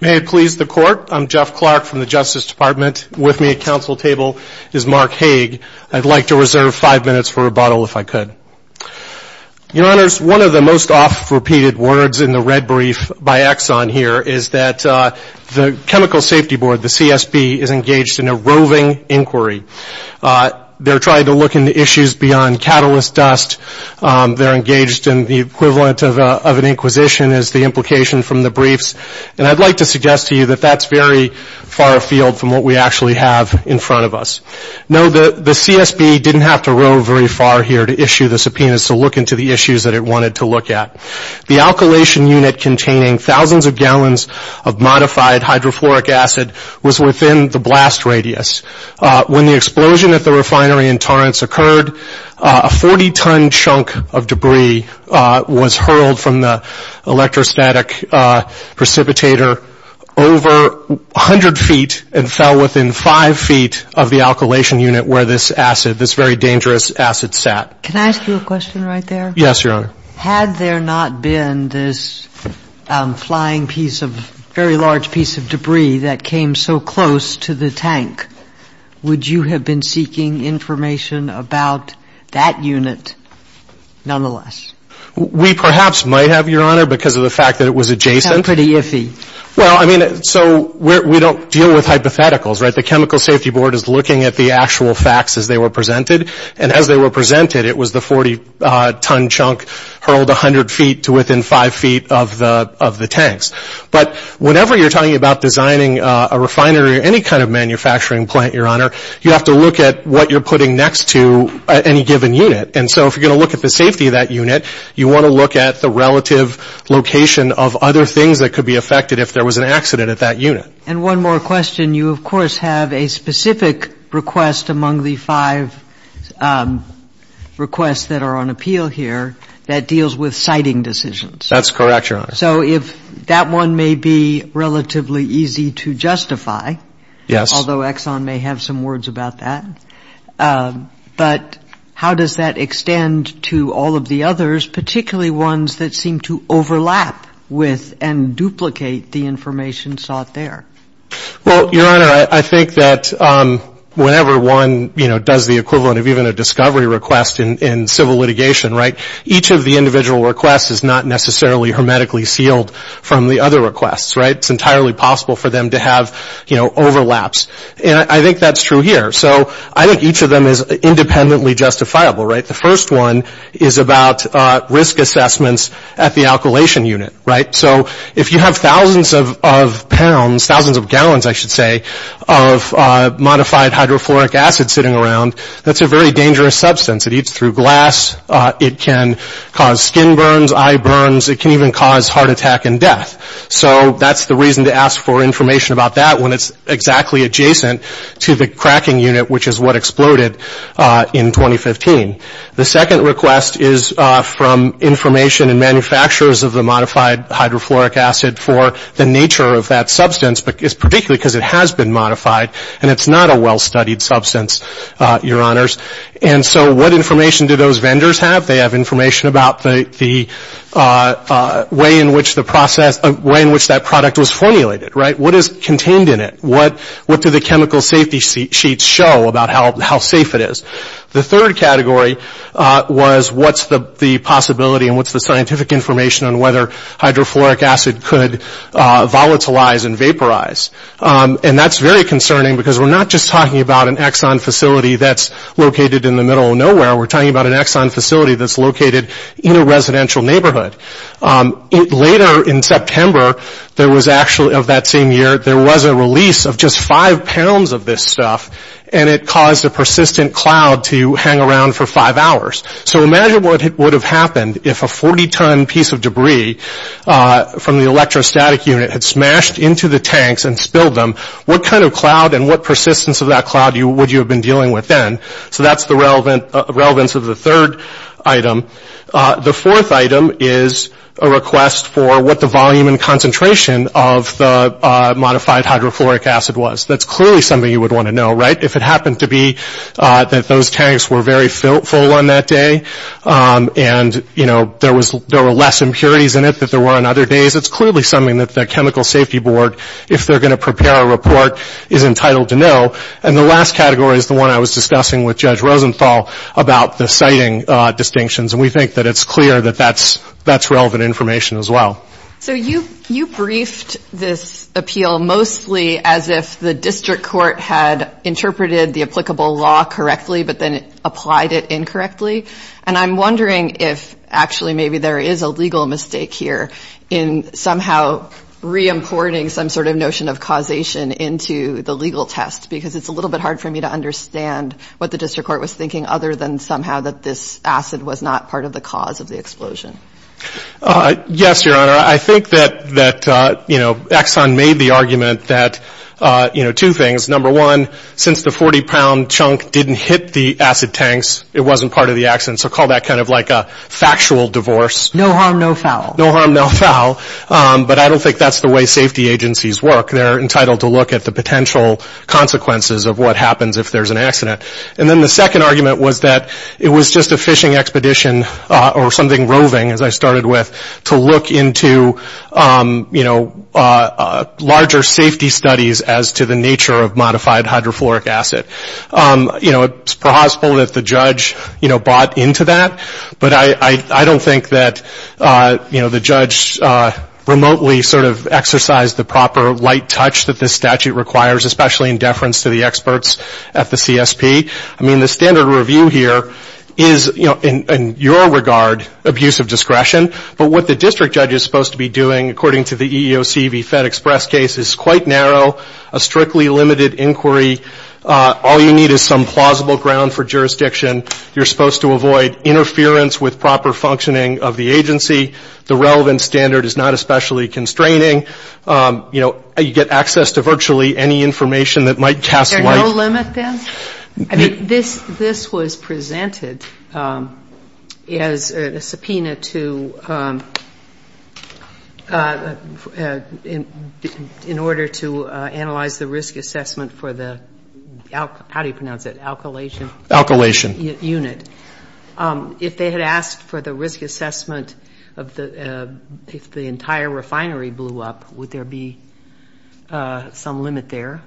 May it please the Court, I'm Jeff Clark from the Justice Department. With me at counsel table is Mark Hague. I'd like to reserve five minutes for rebuttal if I could. Your Honors, one of the most oft-repeated words in the red brief by Exxon here is that the Chemical Safety Board, the CSB, is engaged in a roving inquiry. They're trying to look into issues beyond catalyst dust. They're engaged in the equivalent of an inquisition is the implication from the briefs. And I'd like to suggest to you that that's very far afield from what we actually have in front of us. No, the CSB didn't have to row very far here to issue the subpoenas to look into the issues that it wanted to look at. The alkylation unit containing thousands of gallons of modified hydrofluoric acid was within the blast radius. When the explosion at the refinery in Torrance occurred, a 40-ton chunk of debris was hurled from the electrostatic precipitator over 100 feet and fell within five feet of the alkylation unit where this acid, this very dangerous acid sat. Can I ask you a question right there? Yes, Your Honor. Had there not been this flying piece of, very large piece of debris that came so close to the tank, would you have been seeking information about that unit nonetheless? We perhaps might have, Your Honor, because of the fact that it was adjacent. That's pretty iffy. Well, I mean, so we don't deal with hypotheticals, right? The Chemical Safety Board is looking at the actual facts as they were presented. And as they were presented, it was the 40-ton chunk hurled 100 feet to within five feet of the tanks. But whenever you're talking about designing a refinery or any kind of manufacturing plant, Your Honor, you have to look at what you're putting next to any given unit. And so if you're going to look at the safety of that unit, you want to look at the relative location of other things that could be affected if there was an accident at that unit. And one more question. You, of course, have a specific request among the five requests that are on appeal here that deals with siting decisions. That's correct, Your Honor. So if that one may be relatively easy to justify, although Exxon may have some words about that, but how does that extend to all of the others, particularly ones that seem to overlap with and duplicate the information sought there? Well, Your Honor, I think that whenever one, you know, does the equivalent of even a discovery request in civil litigation, right, each of the individual requests is not necessarily hermetically sealed from the other requests, right? It's entirely possible for them to have, you know, overlaps. And I think that's true here. So I think each of them is independently justifiable, right? The first one is about risk assessments at the alkylation unit, right? So if you have thousands of pounds, thousands of gallons, I should say, of modified hydrofluoric acid sitting around, that's a very dangerous substance. It eats through glass. It can cause skin burns, eye burns. It can even cause heart attack and death. So that's the reason to ask for information about that when it's exactly adjacent to the cracking unit, which is what exploded in 2015. The second request is from information and manufacturers of the modified hydrofluoric acid for the nature of that substance, particularly because it has been modified and it's not a well-studied substance, Your Honors. And so what information do those vendors have? They have information about the way in which the process, way in which that product was formulated, right? What is contained in it? What do the chemical safety sheets show about how safe it is? The third category was what's the possibility and what's the scientific information on whether hydrofluoric acid could volatilize and vaporize? And that's very concerning because we're not just talking about an Exxon facility that's located in the middle of nowhere. We're talking about an Exxon facility that's located in a residential neighborhood. Later in September, there was actually, of that same year, there was a release of just five pounds of this stuff, and it caused a persistent cloud to hang around for five hours. So imagine what would have happened if a 40-ton piece of debris from the electrostatic unit had smashed into the tanks and spilled them. What kind of cloud and what persistence of then? So that's the relevance of the third item. The fourth item is a request for what the volume and concentration of the modified hydrofluoric acid was. That's clearly something you would want to know, right? If it happened to be that those tanks were very full on that day and, you know, there were less impurities in it than there were on other days, it's clearly something that the chemical safety board, if they're going to prepare a report, is entitled to know. And the last category is the one I was discussing with Judge Rosenthal about the sighting distinctions. And we think that it's clear that that's relevant information as well. So you briefed this appeal mostly as if the district court had interpreted the applicable law correctly but then applied it incorrectly. And I'm wondering if actually maybe there is a legal mistake here in somehow reimporting some sort of notion of causation into the case. It's a little bit hard for me to understand what the district court was thinking other than somehow that this acid was not part of the cause of the explosion. Yes, Your Honor. I think that, you know, Exxon made the argument that, you know, two things. Number one, since the 40-pound chunk didn't hit the acid tanks, it wasn't part of the accident. So call that kind of like a factual divorce. No harm, no foul. No harm, no foul. But I don't think that's the way safety agencies work. They're entitled to look at the potential consequences of what happens if there's an accident. And then the second argument was that it was just a fishing expedition or something roving, as I started with, to look into, you know, larger safety studies as to the nature of modified hydrofluoric acid. You know, it's possible that the judge, you know, bought into that. But I don't think that, you know, the judge remotely sort of exercised the proper light touch that this statute requires, especially in deference to the experts at the CSP. I mean, the standard review here is, you know, in your regard, abuse of discretion. But what the district judge is supposed to be doing, according to the EEOC v. FedExpress case, is quite narrow, a strictly limited inquiry. All you need is some plausible ground for jurisdiction. You're supposed to avoid interference with proper functioning of the agency. The relevant standard is not especially constraining. You know, you get access to virtually any information that might cast light. Is there no limit, then? I mean, this was presented as a subpoena to, in order to analyze the risk assessment for the, how do you pronounce it, alkylation unit. If they had asked for the risk assessment of the, if the entire refinery blew up, would there be some limit there?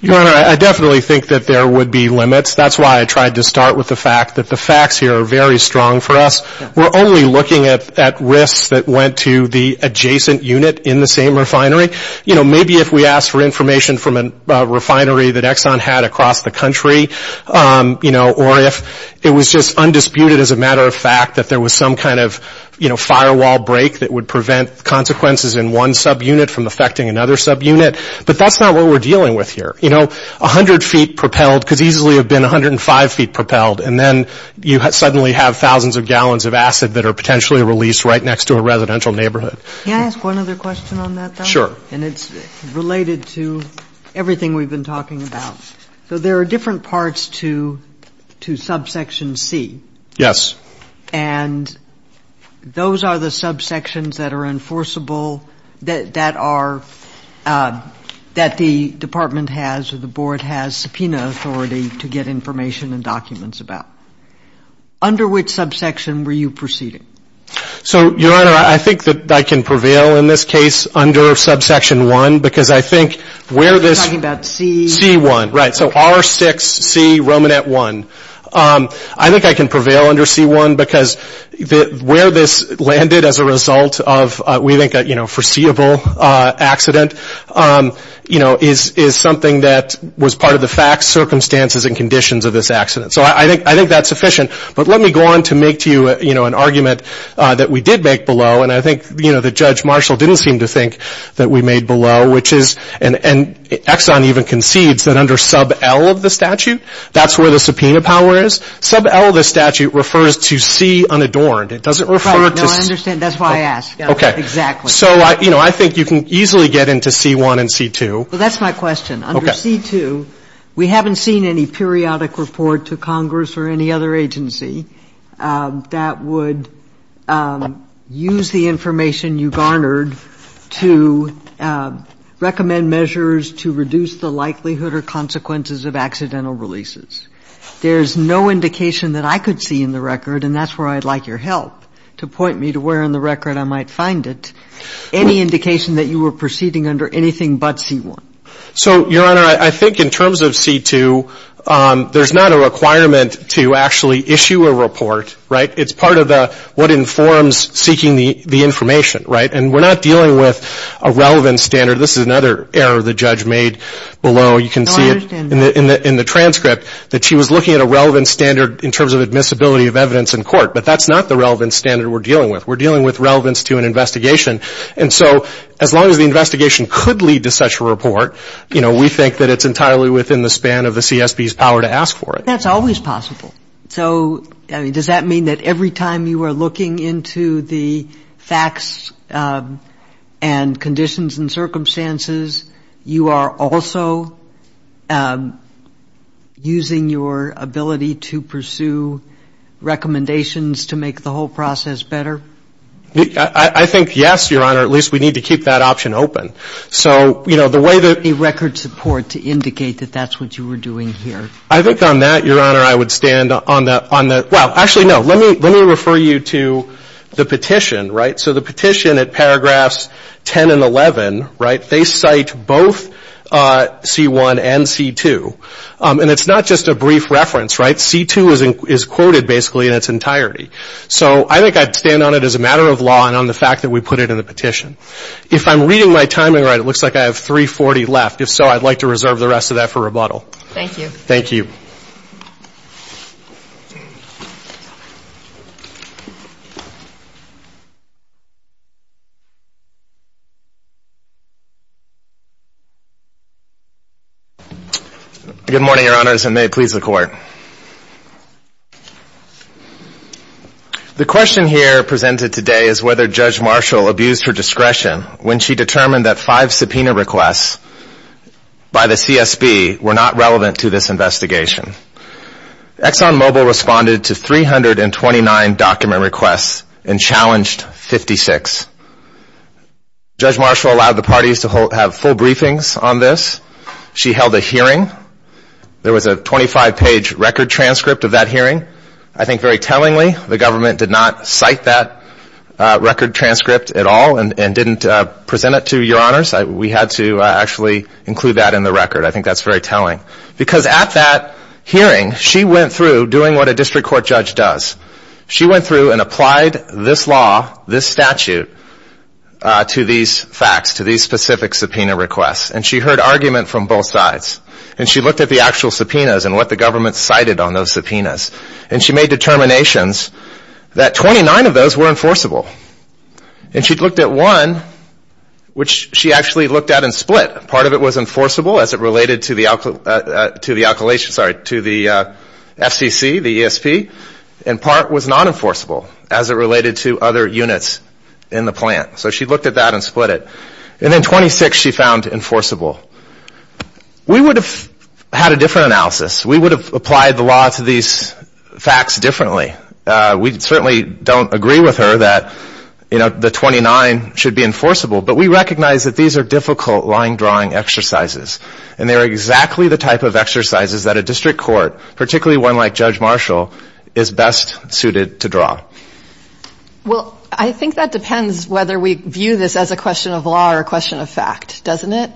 Your Honor, I definitely think that there would be limits. That's why I tried to start with the fact that the facts here are very strong for us. We're only looking at risks that went to the adjacent unit in the same refinery. You know, maybe if we asked for information from a refinery that Exxon had across the country, you know, or if it was just undisputed as a matter of fact that there was some kind of, you know, firewall break that would prevent consequences in one subunit from affecting another subunit. But that's not what we're dealing with here. You know, 100 feet propelled could easily have been 105 feet propelled, and then you suddenly have thousands of gallons of acid that are potentially released right next to a residential neighborhood. Can I ask one other question on that, though? Sure. And it's related to everything we've been talking about. So there are different parts to subsection C. Yes. And those are the subsections that are enforceable, that are — that the Department has or the Board has subpoena authority to get information and documents about. Under which subsection were you proceeding? So, Your Honor, I think that I can prevail in this case under subsection 1, because I think where this — You're talking about C — C1, right. So R6C Romanet 1. I think I can prevail under C1, because where this landed as a result of, we think, a foreseeable accident, you know, is something that was part of the facts, circumstances, and conditions of this accident. So I think that's sufficient. But let me go on to make to you, you know, an argument that we did make below, and I think, you know, that Judge Marshall didn't seem to think that we made below, which is And Exxon even concedes that under sub L of the statute, that's where the subpoena power is. Sub L of the statute refers to C unadorned. It doesn't refer to — No, I understand. That's why I asked. Okay. Exactly. So, you know, I think you can easily get into C1 and C2. Well, that's my question. Okay. Under C2, we haven't seen any periodic report to Congress or any other agency that would use the information you garnered to recommend measures to reduce the likelihood or consequences of accidental releases. There's no indication that I could see in the record — and that's where I'd like your help to point me to where in the record I might find it — any indication that you were proceeding under anything but C1. So, Your Honor, I think in terms of C2, there's not a requirement to actually issue a report, right? It's part of the what informs seeking the information, right? And we're not dealing with a relevant standard. This is another error the judge made below. You can see it — No, I understand that. — in the transcript that she was looking at a relevant standard in terms of admissibility of evidence in court. But that's not the relevant standard we're dealing with. We're dealing with relevance to an investigation. And so as long as the investigation could lead to such a report, you know, we think that it's entirely within the span of the CSB's power to ask for it. But that's always possible. So, I mean, does that mean that every time you are looking into the facts and conditions and circumstances, you are also using your ability to pursue recommendations to make the whole process better? I think, yes, Your Honor. At least we need to keep that option open. So, you know, the way that — Any record support to indicate that that's what you were doing here? I think on that, Your Honor, I would stand on the — well, actually, no. Let me refer you to the petition, right? So the petition at paragraphs 10 and 11, right, they cite both C1 and C2. And it's not just a brief reference, right? C2 is quoted basically in its entirety. So I think I'd stand on it as a matter of law and on the fact that we put it in the petition. If I'm reading my timing right, it looks like I have 340 left. If so, Thank you. Thank you. Good morning, Your Honors, and may it please the Court. The question here presented today is whether Judge Marshall abused her discretion when she determined that five subpoena requests by the CSB were not relevant to this investigation. ExxonMobil responded to 329 document requests and challenged 56. Judge Marshall allowed the parties to have full briefings on this. She held a hearing. There was a 25-page record transcript of that hearing. I think very tellingly the government did not cite that record transcript at all and didn't present it to Your Honors. We had to actually include that in the record. I think that's very telling. Because at that hearing, she went through doing what a district court judge does. She went through and applied this law, this statute, to these facts, to these specific subpoena requests. And she heard argument from both sides. And she looked at the actual subpoenas and what the government cited on those subpoenas. And she made determinations that 29 of those were enforceable. And she actually looked at and split. Part of it was enforceable as it related to the FCC, the ESP. And part was non-enforceable as it related to other units in the plant. So she looked at that and split it. And then 26 she found enforceable. We would have had a different analysis. We would have applied the law to these facts differently. We certainly don't agree with her that the 29 should be enforceable. But we recognize that these are difficult line-drawing exercises. And they are exactly the type of exercises that a district court, particularly one like Judge Marshall, is best suited to draw. Well, I think that depends whether we view this as a question of law or a question of fact, doesn't it?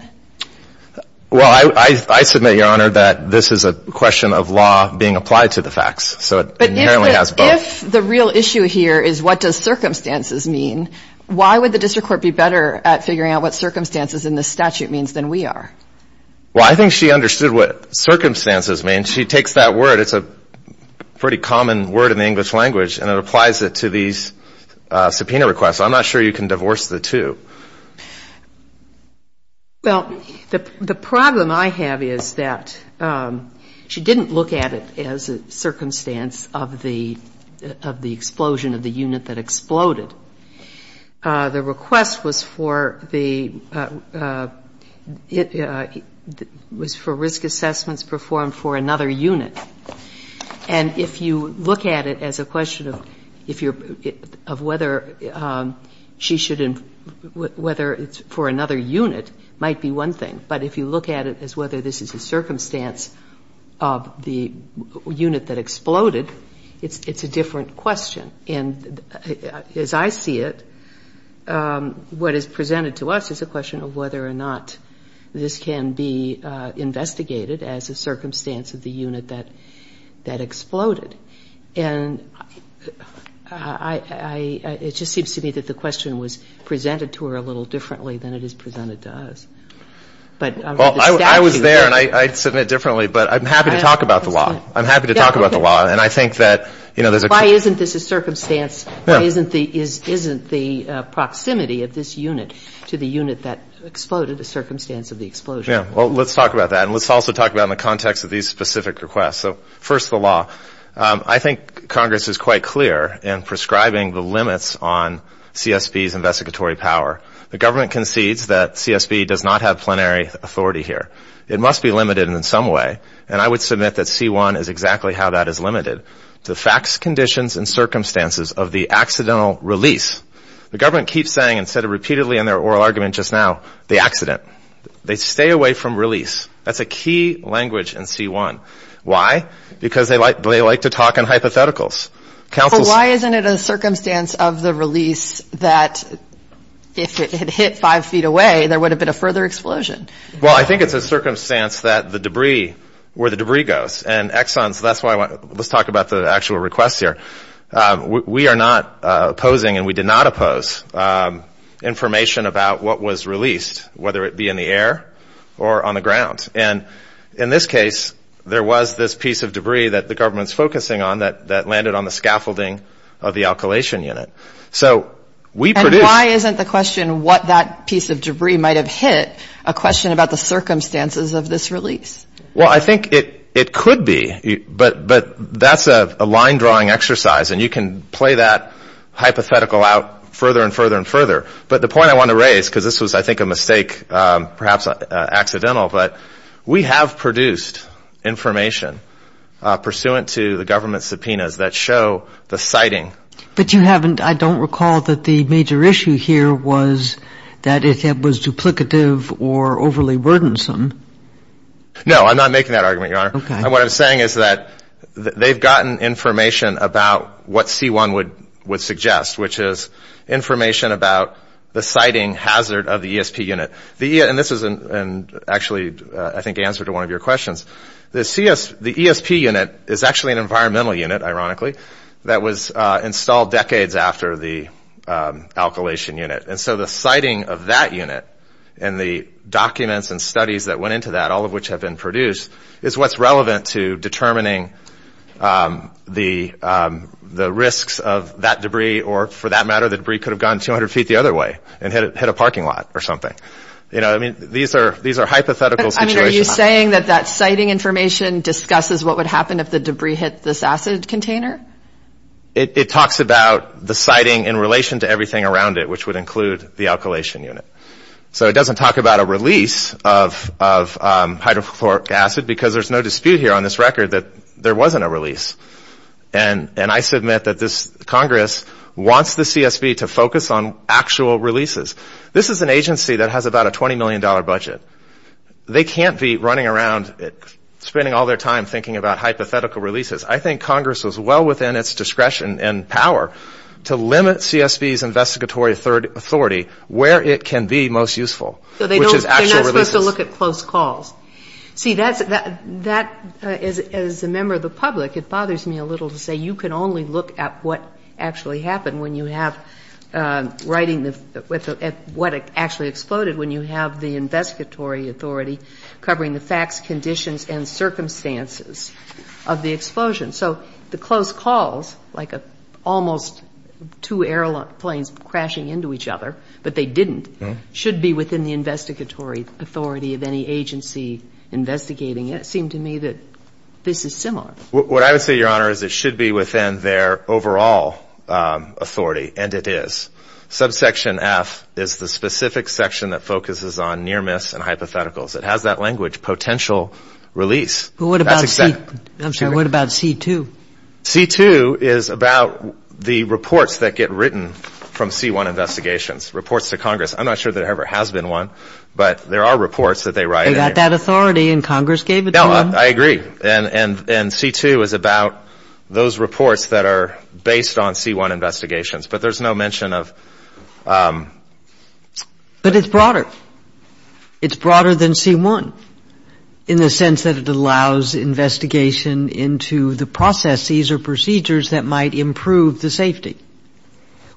Well, I submit, Your Honor, that this is a question of law being applied to the facts. So it inherently has both. But if the real issue here is what does circumstances mean, why would the district court be better at figuring out what circumstances in this statute means than we are? Well, I think she understood what circumstances mean. She takes that word. It's a pretty common word in the English language. And it applies it to these subpoena requests. I'm not sure you can divorce the two. Well, the problem I have is that she didn't look at it as a circumstance of the explosion of the unit that exploded. The request was for risk assessments performed for another unit. And if you look at it as a question of whether it's for another unit might be one thing. But if you look at it as whether this is a circumstance of the unit that exploded, it's a different question. And as I see it, what is presented to us is a question of whether or not this can be investigated as a circumstance of the unit that exploded. And it just seems to me that the question was presented to her a little differently than it is presented But the statute is different. Well, I was there and I submit differently. But I'm happy to talk about the law. I'm happy to talk about the law. And I think that, you know, there's a Why isn't this a circumstance? Why isn't the proximity of this unit to the unit that exploded a circumstance of the explosion? Yeah. Well, let's talk about that. And let's also talk about in the context of these specific requests. So first, the law. I think Congress is quite clear in prescribing the limits on CSB's investigatory power. The government concedes that CSB does not have plenary authority here. It must be limited in some way. And I would submit that C1 is exactly how that is limited. The facts, conditions, and circumstances of the accidental release. The government keeps saying, and said it repeatedly in their oral argument just now, the accident. They stay away from release. That's a key language in C1. Why? Because they like to talk in hypotheticals. But why isn't it a circumstance of the release that if it had hit five feet away, there would have been a further explosion? Well, I think it's a circumstance that the debris, where the debris goes. And Exxon, that's why I want, let's talk about the actual requests here. We are not opposing, and we did not oppose, information about what was released, whether it be in the air or on the ground. And in this case, there was this piece of debris that the government's focusing on that landed on the scaffolding of the alkylation unit. So we produced Why isn't the question what that piece of debris might have hit a question about the circumstances of this release? Well, I think it could be. But that's a line-drawing exercise. And you can play that hypothetical out further and further and further. But the point I want to raise, because this was I think a mistake, perhaps accidental, but we have produced information pursuant to the government subpoenas that show the sighting. But you haven't, I don't recall that the major issue here was that it was duplicative or overly wordensome. No, I'm not making that argument, Your Honor. And what I'm saying is that they've gotten information about what C-1 would suggest, which is information about the sighting hazard of the ESP unit. And this is actually, I think, answer to one of your questions. The ESP unit is actually an environmental unit, ironically, that was installed decades after the alkylation unit. And so the sighting of that unit and the documents and studies that went into that, all of which have been produced, is what's relevant to determining the risks of that debris or, for that matter, the debris could have gone 200 feet the other way and hit a parking lot or something. You know, I mean, these are hypothetical situations. Are you saying that that sighting information discusses what would happen if the debris hit this acid container? It talks about the sighting in relation to everything around it, which would include the alkylation unit. So it doesn't talk about a release of hydrochloric acid because there's no dispute here on this record that there wasn't a release. And I submit that this Congress wants the CSB to focus on actual releases. This is an agency that has about a $20 million budget. They can't be running around spending all their time thinking about hypothetical releases. I think Congress is well within its discretion and power to limit CSB's investigatory authority where it can be most useful, which is actual releases. So they're not supposed to look at close calls. See, that's as a member of the public, it bothers me a little to say you can only look at what actually happened when you have writing and what actually exploded when you have the investigatory authority covering the facts, conditions, and circumstances of the explosion. So the close calls, like almost two airplanes crashing into each other, but they didn't, should be within the investigatory authority of any agency investigating it. It seemed to me that this is similar. What I would say, Your Honor, is it should be within their overall authority and it is. Subsection F is the specific section that focuses on near-miss and hypotheticals. It has that language, potential release. But what about C2? C2 is about the reports that get written from C1 investigations, reports to Congress. I'm not sure there ever has been one, but there are reports that they write. They got that authority and Congress gave it to them? No, I agree. And C2 is about those reports that are based on C1 investigations. But there's no mention of... But it's broader. It's broader than C1 in the sense that it allows investigation into the processes or procedures that might improve the safety,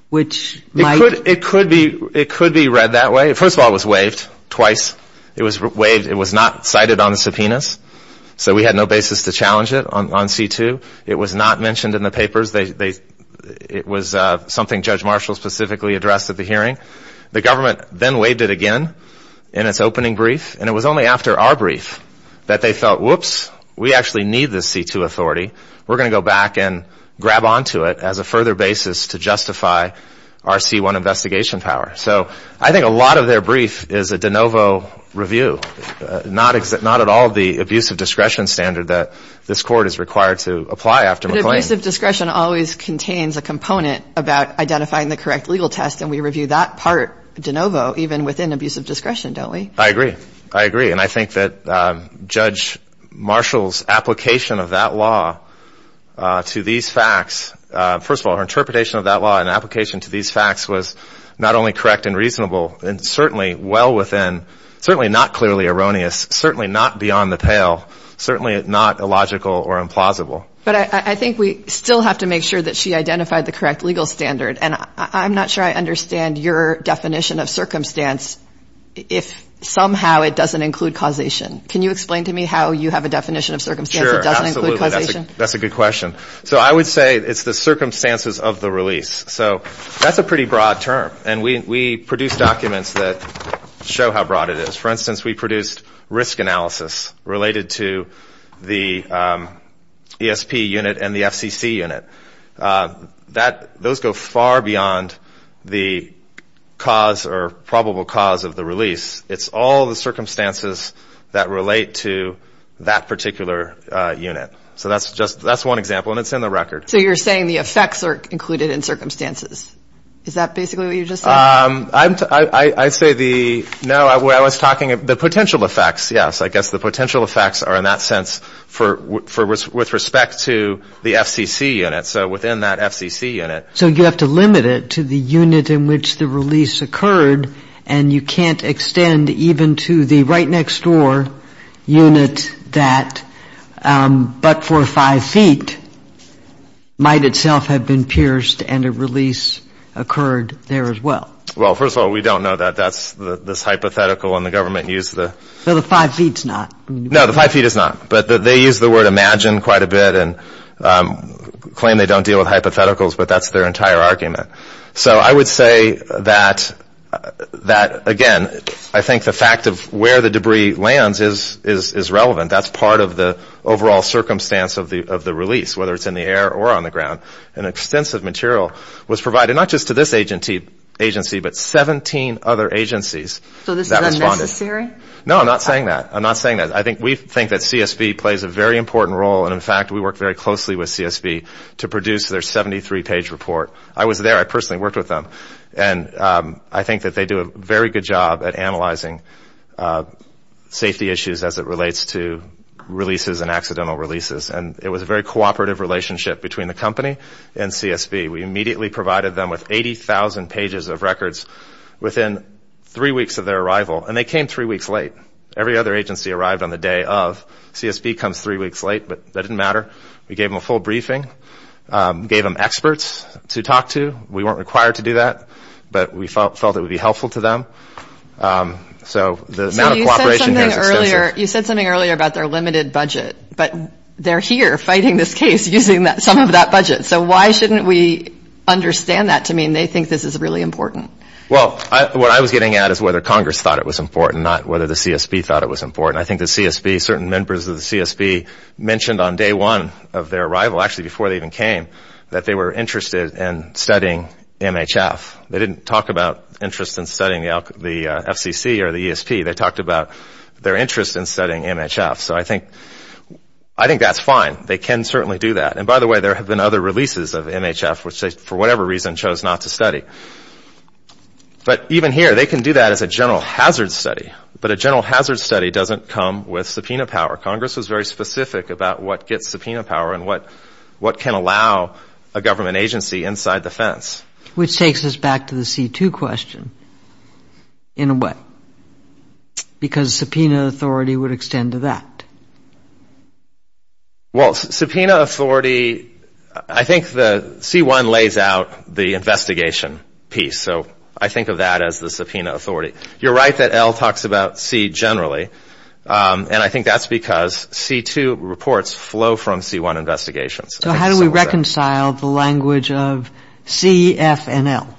which might... It could be read that way. First of all, it was waived twice. It was waived, it was not cited on the subpoenas, so we had no basis to challenge it on C2. It was not mentioned in the papers. It was something Judge Marshall specifically addressed at the hearing. The government then waived it again in its opening brief and it was only after our brief that they felt, whoops, we actually need this C2 authority. We're going to go back and grab onto it as a further basis to justify our C1 investigation power. So I think a lot of their brief is a de novo review, not at all the abuse of discretion standard that this court is required to apply after McLean. But abuse of discretion always contains a component about identifying the correct legal test and we review that part de novo even within abuse of discretion, don't we? I agree. I agree. And I think that Judge Marshall's application of that law to these facts... First of all, her interpretation of that law and application to these facts was not only correct and reasonable and certainly well within, certainly not clearly erroneous, certainly not beyond the pale, certainly not illogical or implausible. But I think we still have to make sure that she identified the correct legal standard and I'm not sure I understand your definition of circumstance if somehow it doesn't include causation. Can you explain to me how you have a definition of circumstance that doesn't include causation? That's a good question. So I would say it's the circumstances of the release. So that's a pretty broad term and we produce documents that show how broad it is. For instance, we produced risk analysis related to the ESP unit and the FCC unit. Those go far beyond the cause or probable cause of the release. It's all the circumstances that relate to that particular unit. So that's one example and it's in the record. So you're saying the effects are included in circumstances. Is that basically what you just said? I say the... No, I was talking of the potential effects. Yes, I guess the potential effects are in that sense with respect to the FCC unit. So within that FCC unit... So you have to limit it to the unit in which the release occurred and you can't extend even to the right next door unit that, but for five feet, might itself have been pierced and a release occurred there as well. Well, first of all, we don't know that. That's this hypothetical and the government used the... So the five feet's not? No, the five feet is not. But they use the word imagine quite a bit and claim they don't deal with hypotheticals, but that's their entire argument. So I would say that, again, I think the fact of where the debris lands is relevant. That's part of the overall circumstance of the release, whether it's in the air or on the ground. An extensive material was provided, not just to this agency, but 17 other agencies that responded. So this is unnecessary? No, I'm not saying that. I'm not saying that. I think we think that CSB plays a very important role and, in fact, we work very closely with CSB to produce their 73-page report. I was a very good job at analyzing safety issues as it relates to releases and accidental releases and it was a very cooperative relationship between the company and CSB. We immediately provided them with 80,000 pages of records within three weeks of their arrival and they came three weeks late. Every other agency arrived on the day of. CSB comes three weeks late, but that didn't matter. We gave them a full briefing, gave them experts to talk to. We weren't required to do that, but we felt it would be helpful to them. So the amount of cooperation here is extensive. You said something earlier about their limited budget, but they're here fighting this case using some of that budget. So why shouldn't we understand that to mean they think this is really important? Well, what I was getting at is whether Congress thought it was important, not whether the CSB thought it was important. I think the CSB, certain members of the CSB, mentioned on day one of their arrival, actually before they even came, that they were interested in studying MHF. They didn't talk about interest in studying the FCC or the ESP. They talked about their interest in studying MHF. So I think that's fine. They can certainly do that. And by the way, there have been other releases of MHF which they, for whatever reason, chose not to study. But even here, they can do that as a general hazard study, but a general hazard study doesn't come with subpoena power. Congress was very specific about what gets subpoena power and what can allow a government agency inside the fence. Which takes us back to the C-2 question. In what? Because subpoena authority would extend to that. Well, subpoena authority, I think the C-1 lays out the investigation piece. So I think of that as the subpoena authority. You're right that Al talks about C generally, and I think that's because C-2 reports flow from C-1 investigations. So how do we reconcile the language of C, F, and L?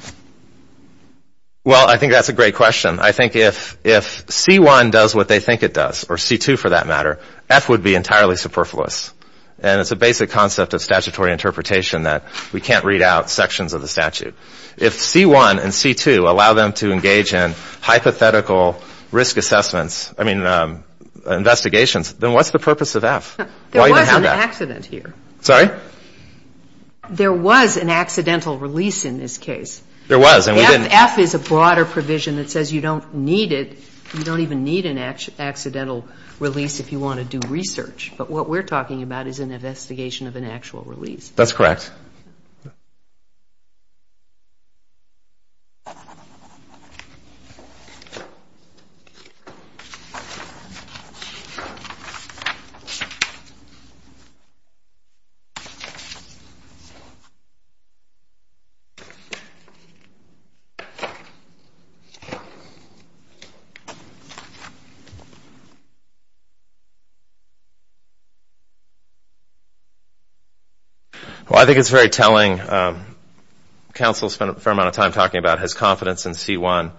Well, I think that's a great question. I think if C-1 does what they think it does, or C-2 for that matter, F would be entirely superfluous. And it's a basic concept of statutory interpretation that we can't read out sections of the statute. If C-1 and C-2 allow them to engage in hypothetical risk assessments, I mean, investigations, then what's the purpose of F? There was an accident here. Sorry? There was an accidental release in this case. There was, and we didn't F is a broader provision that says you don't need it. You don't even need an accidental release if you want to do research. But what we're talking about is an investigation of an actual release. That's correct. Well, I think it's a great question. It's very telling. Counsel spent a fair amount of time talking about his confidence in C-1.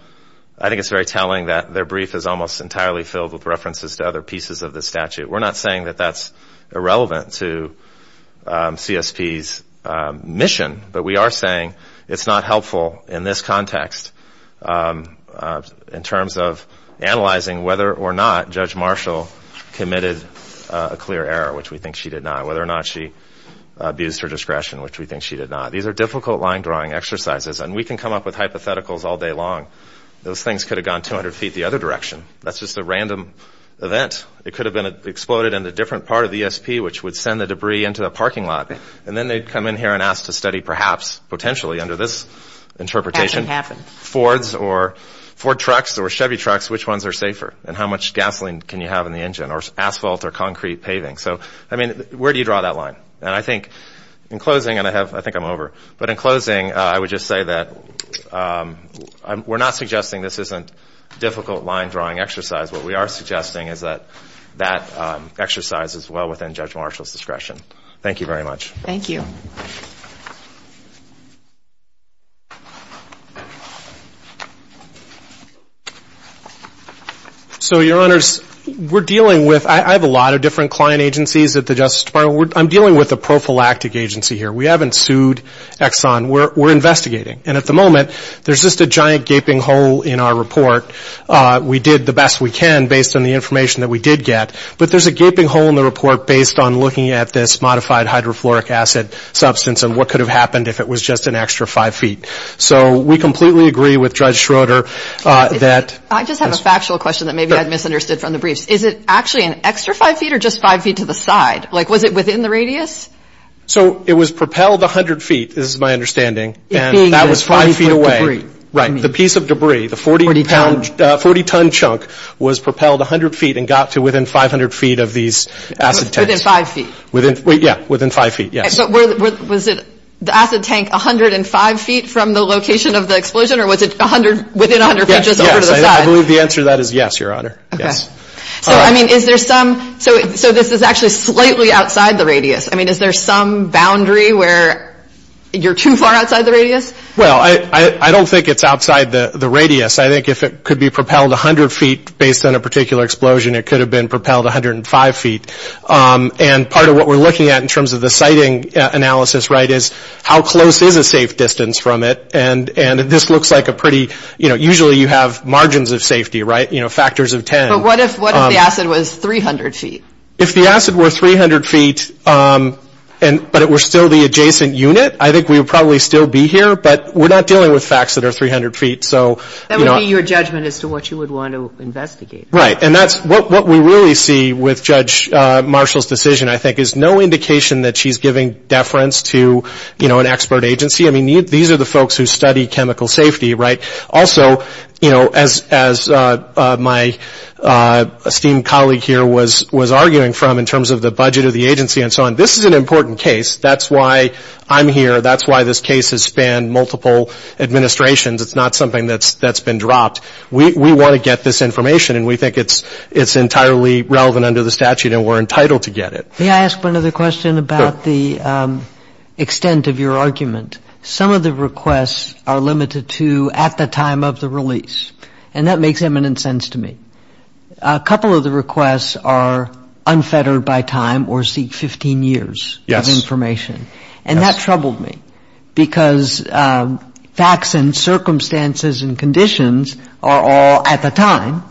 I think it's very telling that their brief is almost entirely filled with references to other pieces of the statute. We're not saying that that's irrelevant to CSP's mission, but we are saying it's not helpful in this context in terms of analyzing whether or not Judge Marshall committed a clear error, which we think she did not, whether or not she abused her discretion, which we think she did not. These are difficult line-drawing exercises, and we can come up with hypotheticals all day long. Those things could have gone 200 feet the other direction. That's just a random event. It could have exploded in a different part of the ESP, which would send the debris into a parking lot, and then they'd come in here and ask to study, perhaps, potentially, under this interpretation, Fords or Ford trucks or Chevy trucks, which ones are safer, and how much gasoline can you have in the engine or asphalt or concrete paving. So, I mean, where do you draw that line? And I think, in closing, and I think I'm over, but in closing, I would just say that we're not suggesting this isn't a difficult line-drawing exercise. What we are suggesting is that that exercise is well within Judge Marshall's discretion. Thank you very much. Thank you. So Your Honors, we're dealing with, I have a lot of different client agencies at the Justice Department. I'm dealing with a prophylactic agency here. We haven't sued Exxon. We're investigating. And at the moment, there's just a giant gaping hole in our report. We did the best we can, based on the information that we did get. But there's a gaping hole in the report, based on looking at this modified hydrofluoric acid substance, and what could have happened if it was just an extra five feet. So we completely agree with Judge Schroeder that – I just have a factual question that maybe I misunderstood from the briefs. Is it actually an extra five feet, or just five feet to the side? Like, was it within the radius? So it was propelled 100 feet, is my understanding, and that was five feet away. It being a piece of debris. Right. The piece of debris, the 40-ton chunk, was propelled 100 feet and got to within 500 feet of these acid tanks. Within five feet? Within – yeah, within five feet, yes. But was it the acid tank 105 feet from the location of the explosion, or was it 100 – within 100 feet, just over to the side? Yes, yes. I believe the answer to that is yes, Your Honor. Yes. Okay. So, I mean, is there some – so this is actually slightly outside the radius. I mean, is there some boundary where you're too far outside the radius? Well, I don't think it's outside the radius. I think if it could be propelled 100 feet, based on a particular explosion, it could have been propelled 105 feet. And part of what we're looking at in terms of the siting analysis, right, is how close is a safe distance from it? And this looks like a pretty – you know, usually you have margins of safety, right? You know, factors of 10. But what if the acid was 300 feet? If the acid were 300 feet, but it were still the adjacent unit, I think we would probably still be here, but we're not dealing with facts that are 300 feet, so – That would be your judgment as to what you would want to investigate. Right. And that's – what we really see with Judge Marshall's decision, I think, is no indication that she's giving deference to, you know, an expert agency. I mean, these are the folks who study chemical safety, right? Also, you know, as my esteemed colleague here was arguing from in terms of the budget of the agency and so on, this is an important case. That's why I'm here. That's why this case has spanned multiple administrations. It's not something that's been dropped. We want to get this information, and we think it's entirely relevant under the statute, and we're entitled to get it. May I ask one other question about the extent of your argument? Some of the requests are limited to at the time of the release, and that makes eminent sense to me. A couple of the requests are unfettered by time or seek 15 years of information. Yes. And that troubled me because facts and circumstances and conditions are all at the time,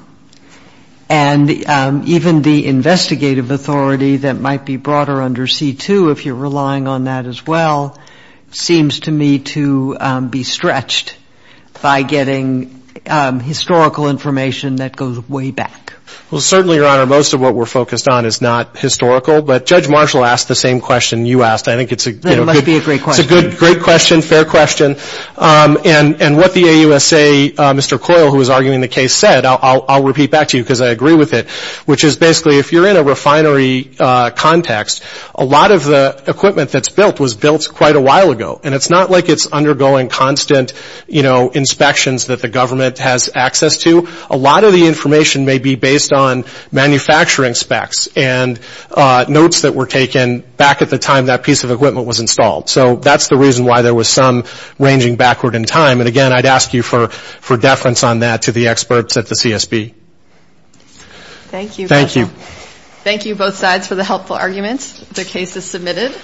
and even the investigative authority that might be broader under C-2, if you're relying on that as well, seems to me to be stretched by getting historical information that goes way back. Well, certainly, Your Honor, most of what we're focused on is not historical, but Judge Marshall asked the same question you asked. I think it's a good, great question, fair question. And what the AUSA, Mr. Coyle, who was arguing the case, said, I'll repeat back to you because I agree with it, which is basically if you're in a refinery context, a lot of the equipment that's built was built quite a while ago, and it's not like it's undergoing constant inspections that the government has access to. A lot of the inspections that were taken back at the time that piece of equipment was installed. So that's the reason why there was some ranging backward in time. And again, I'd ask you for deference on that to the experts at the CSB. Thank you, both sides, for the helpful arguments. The case is submitted.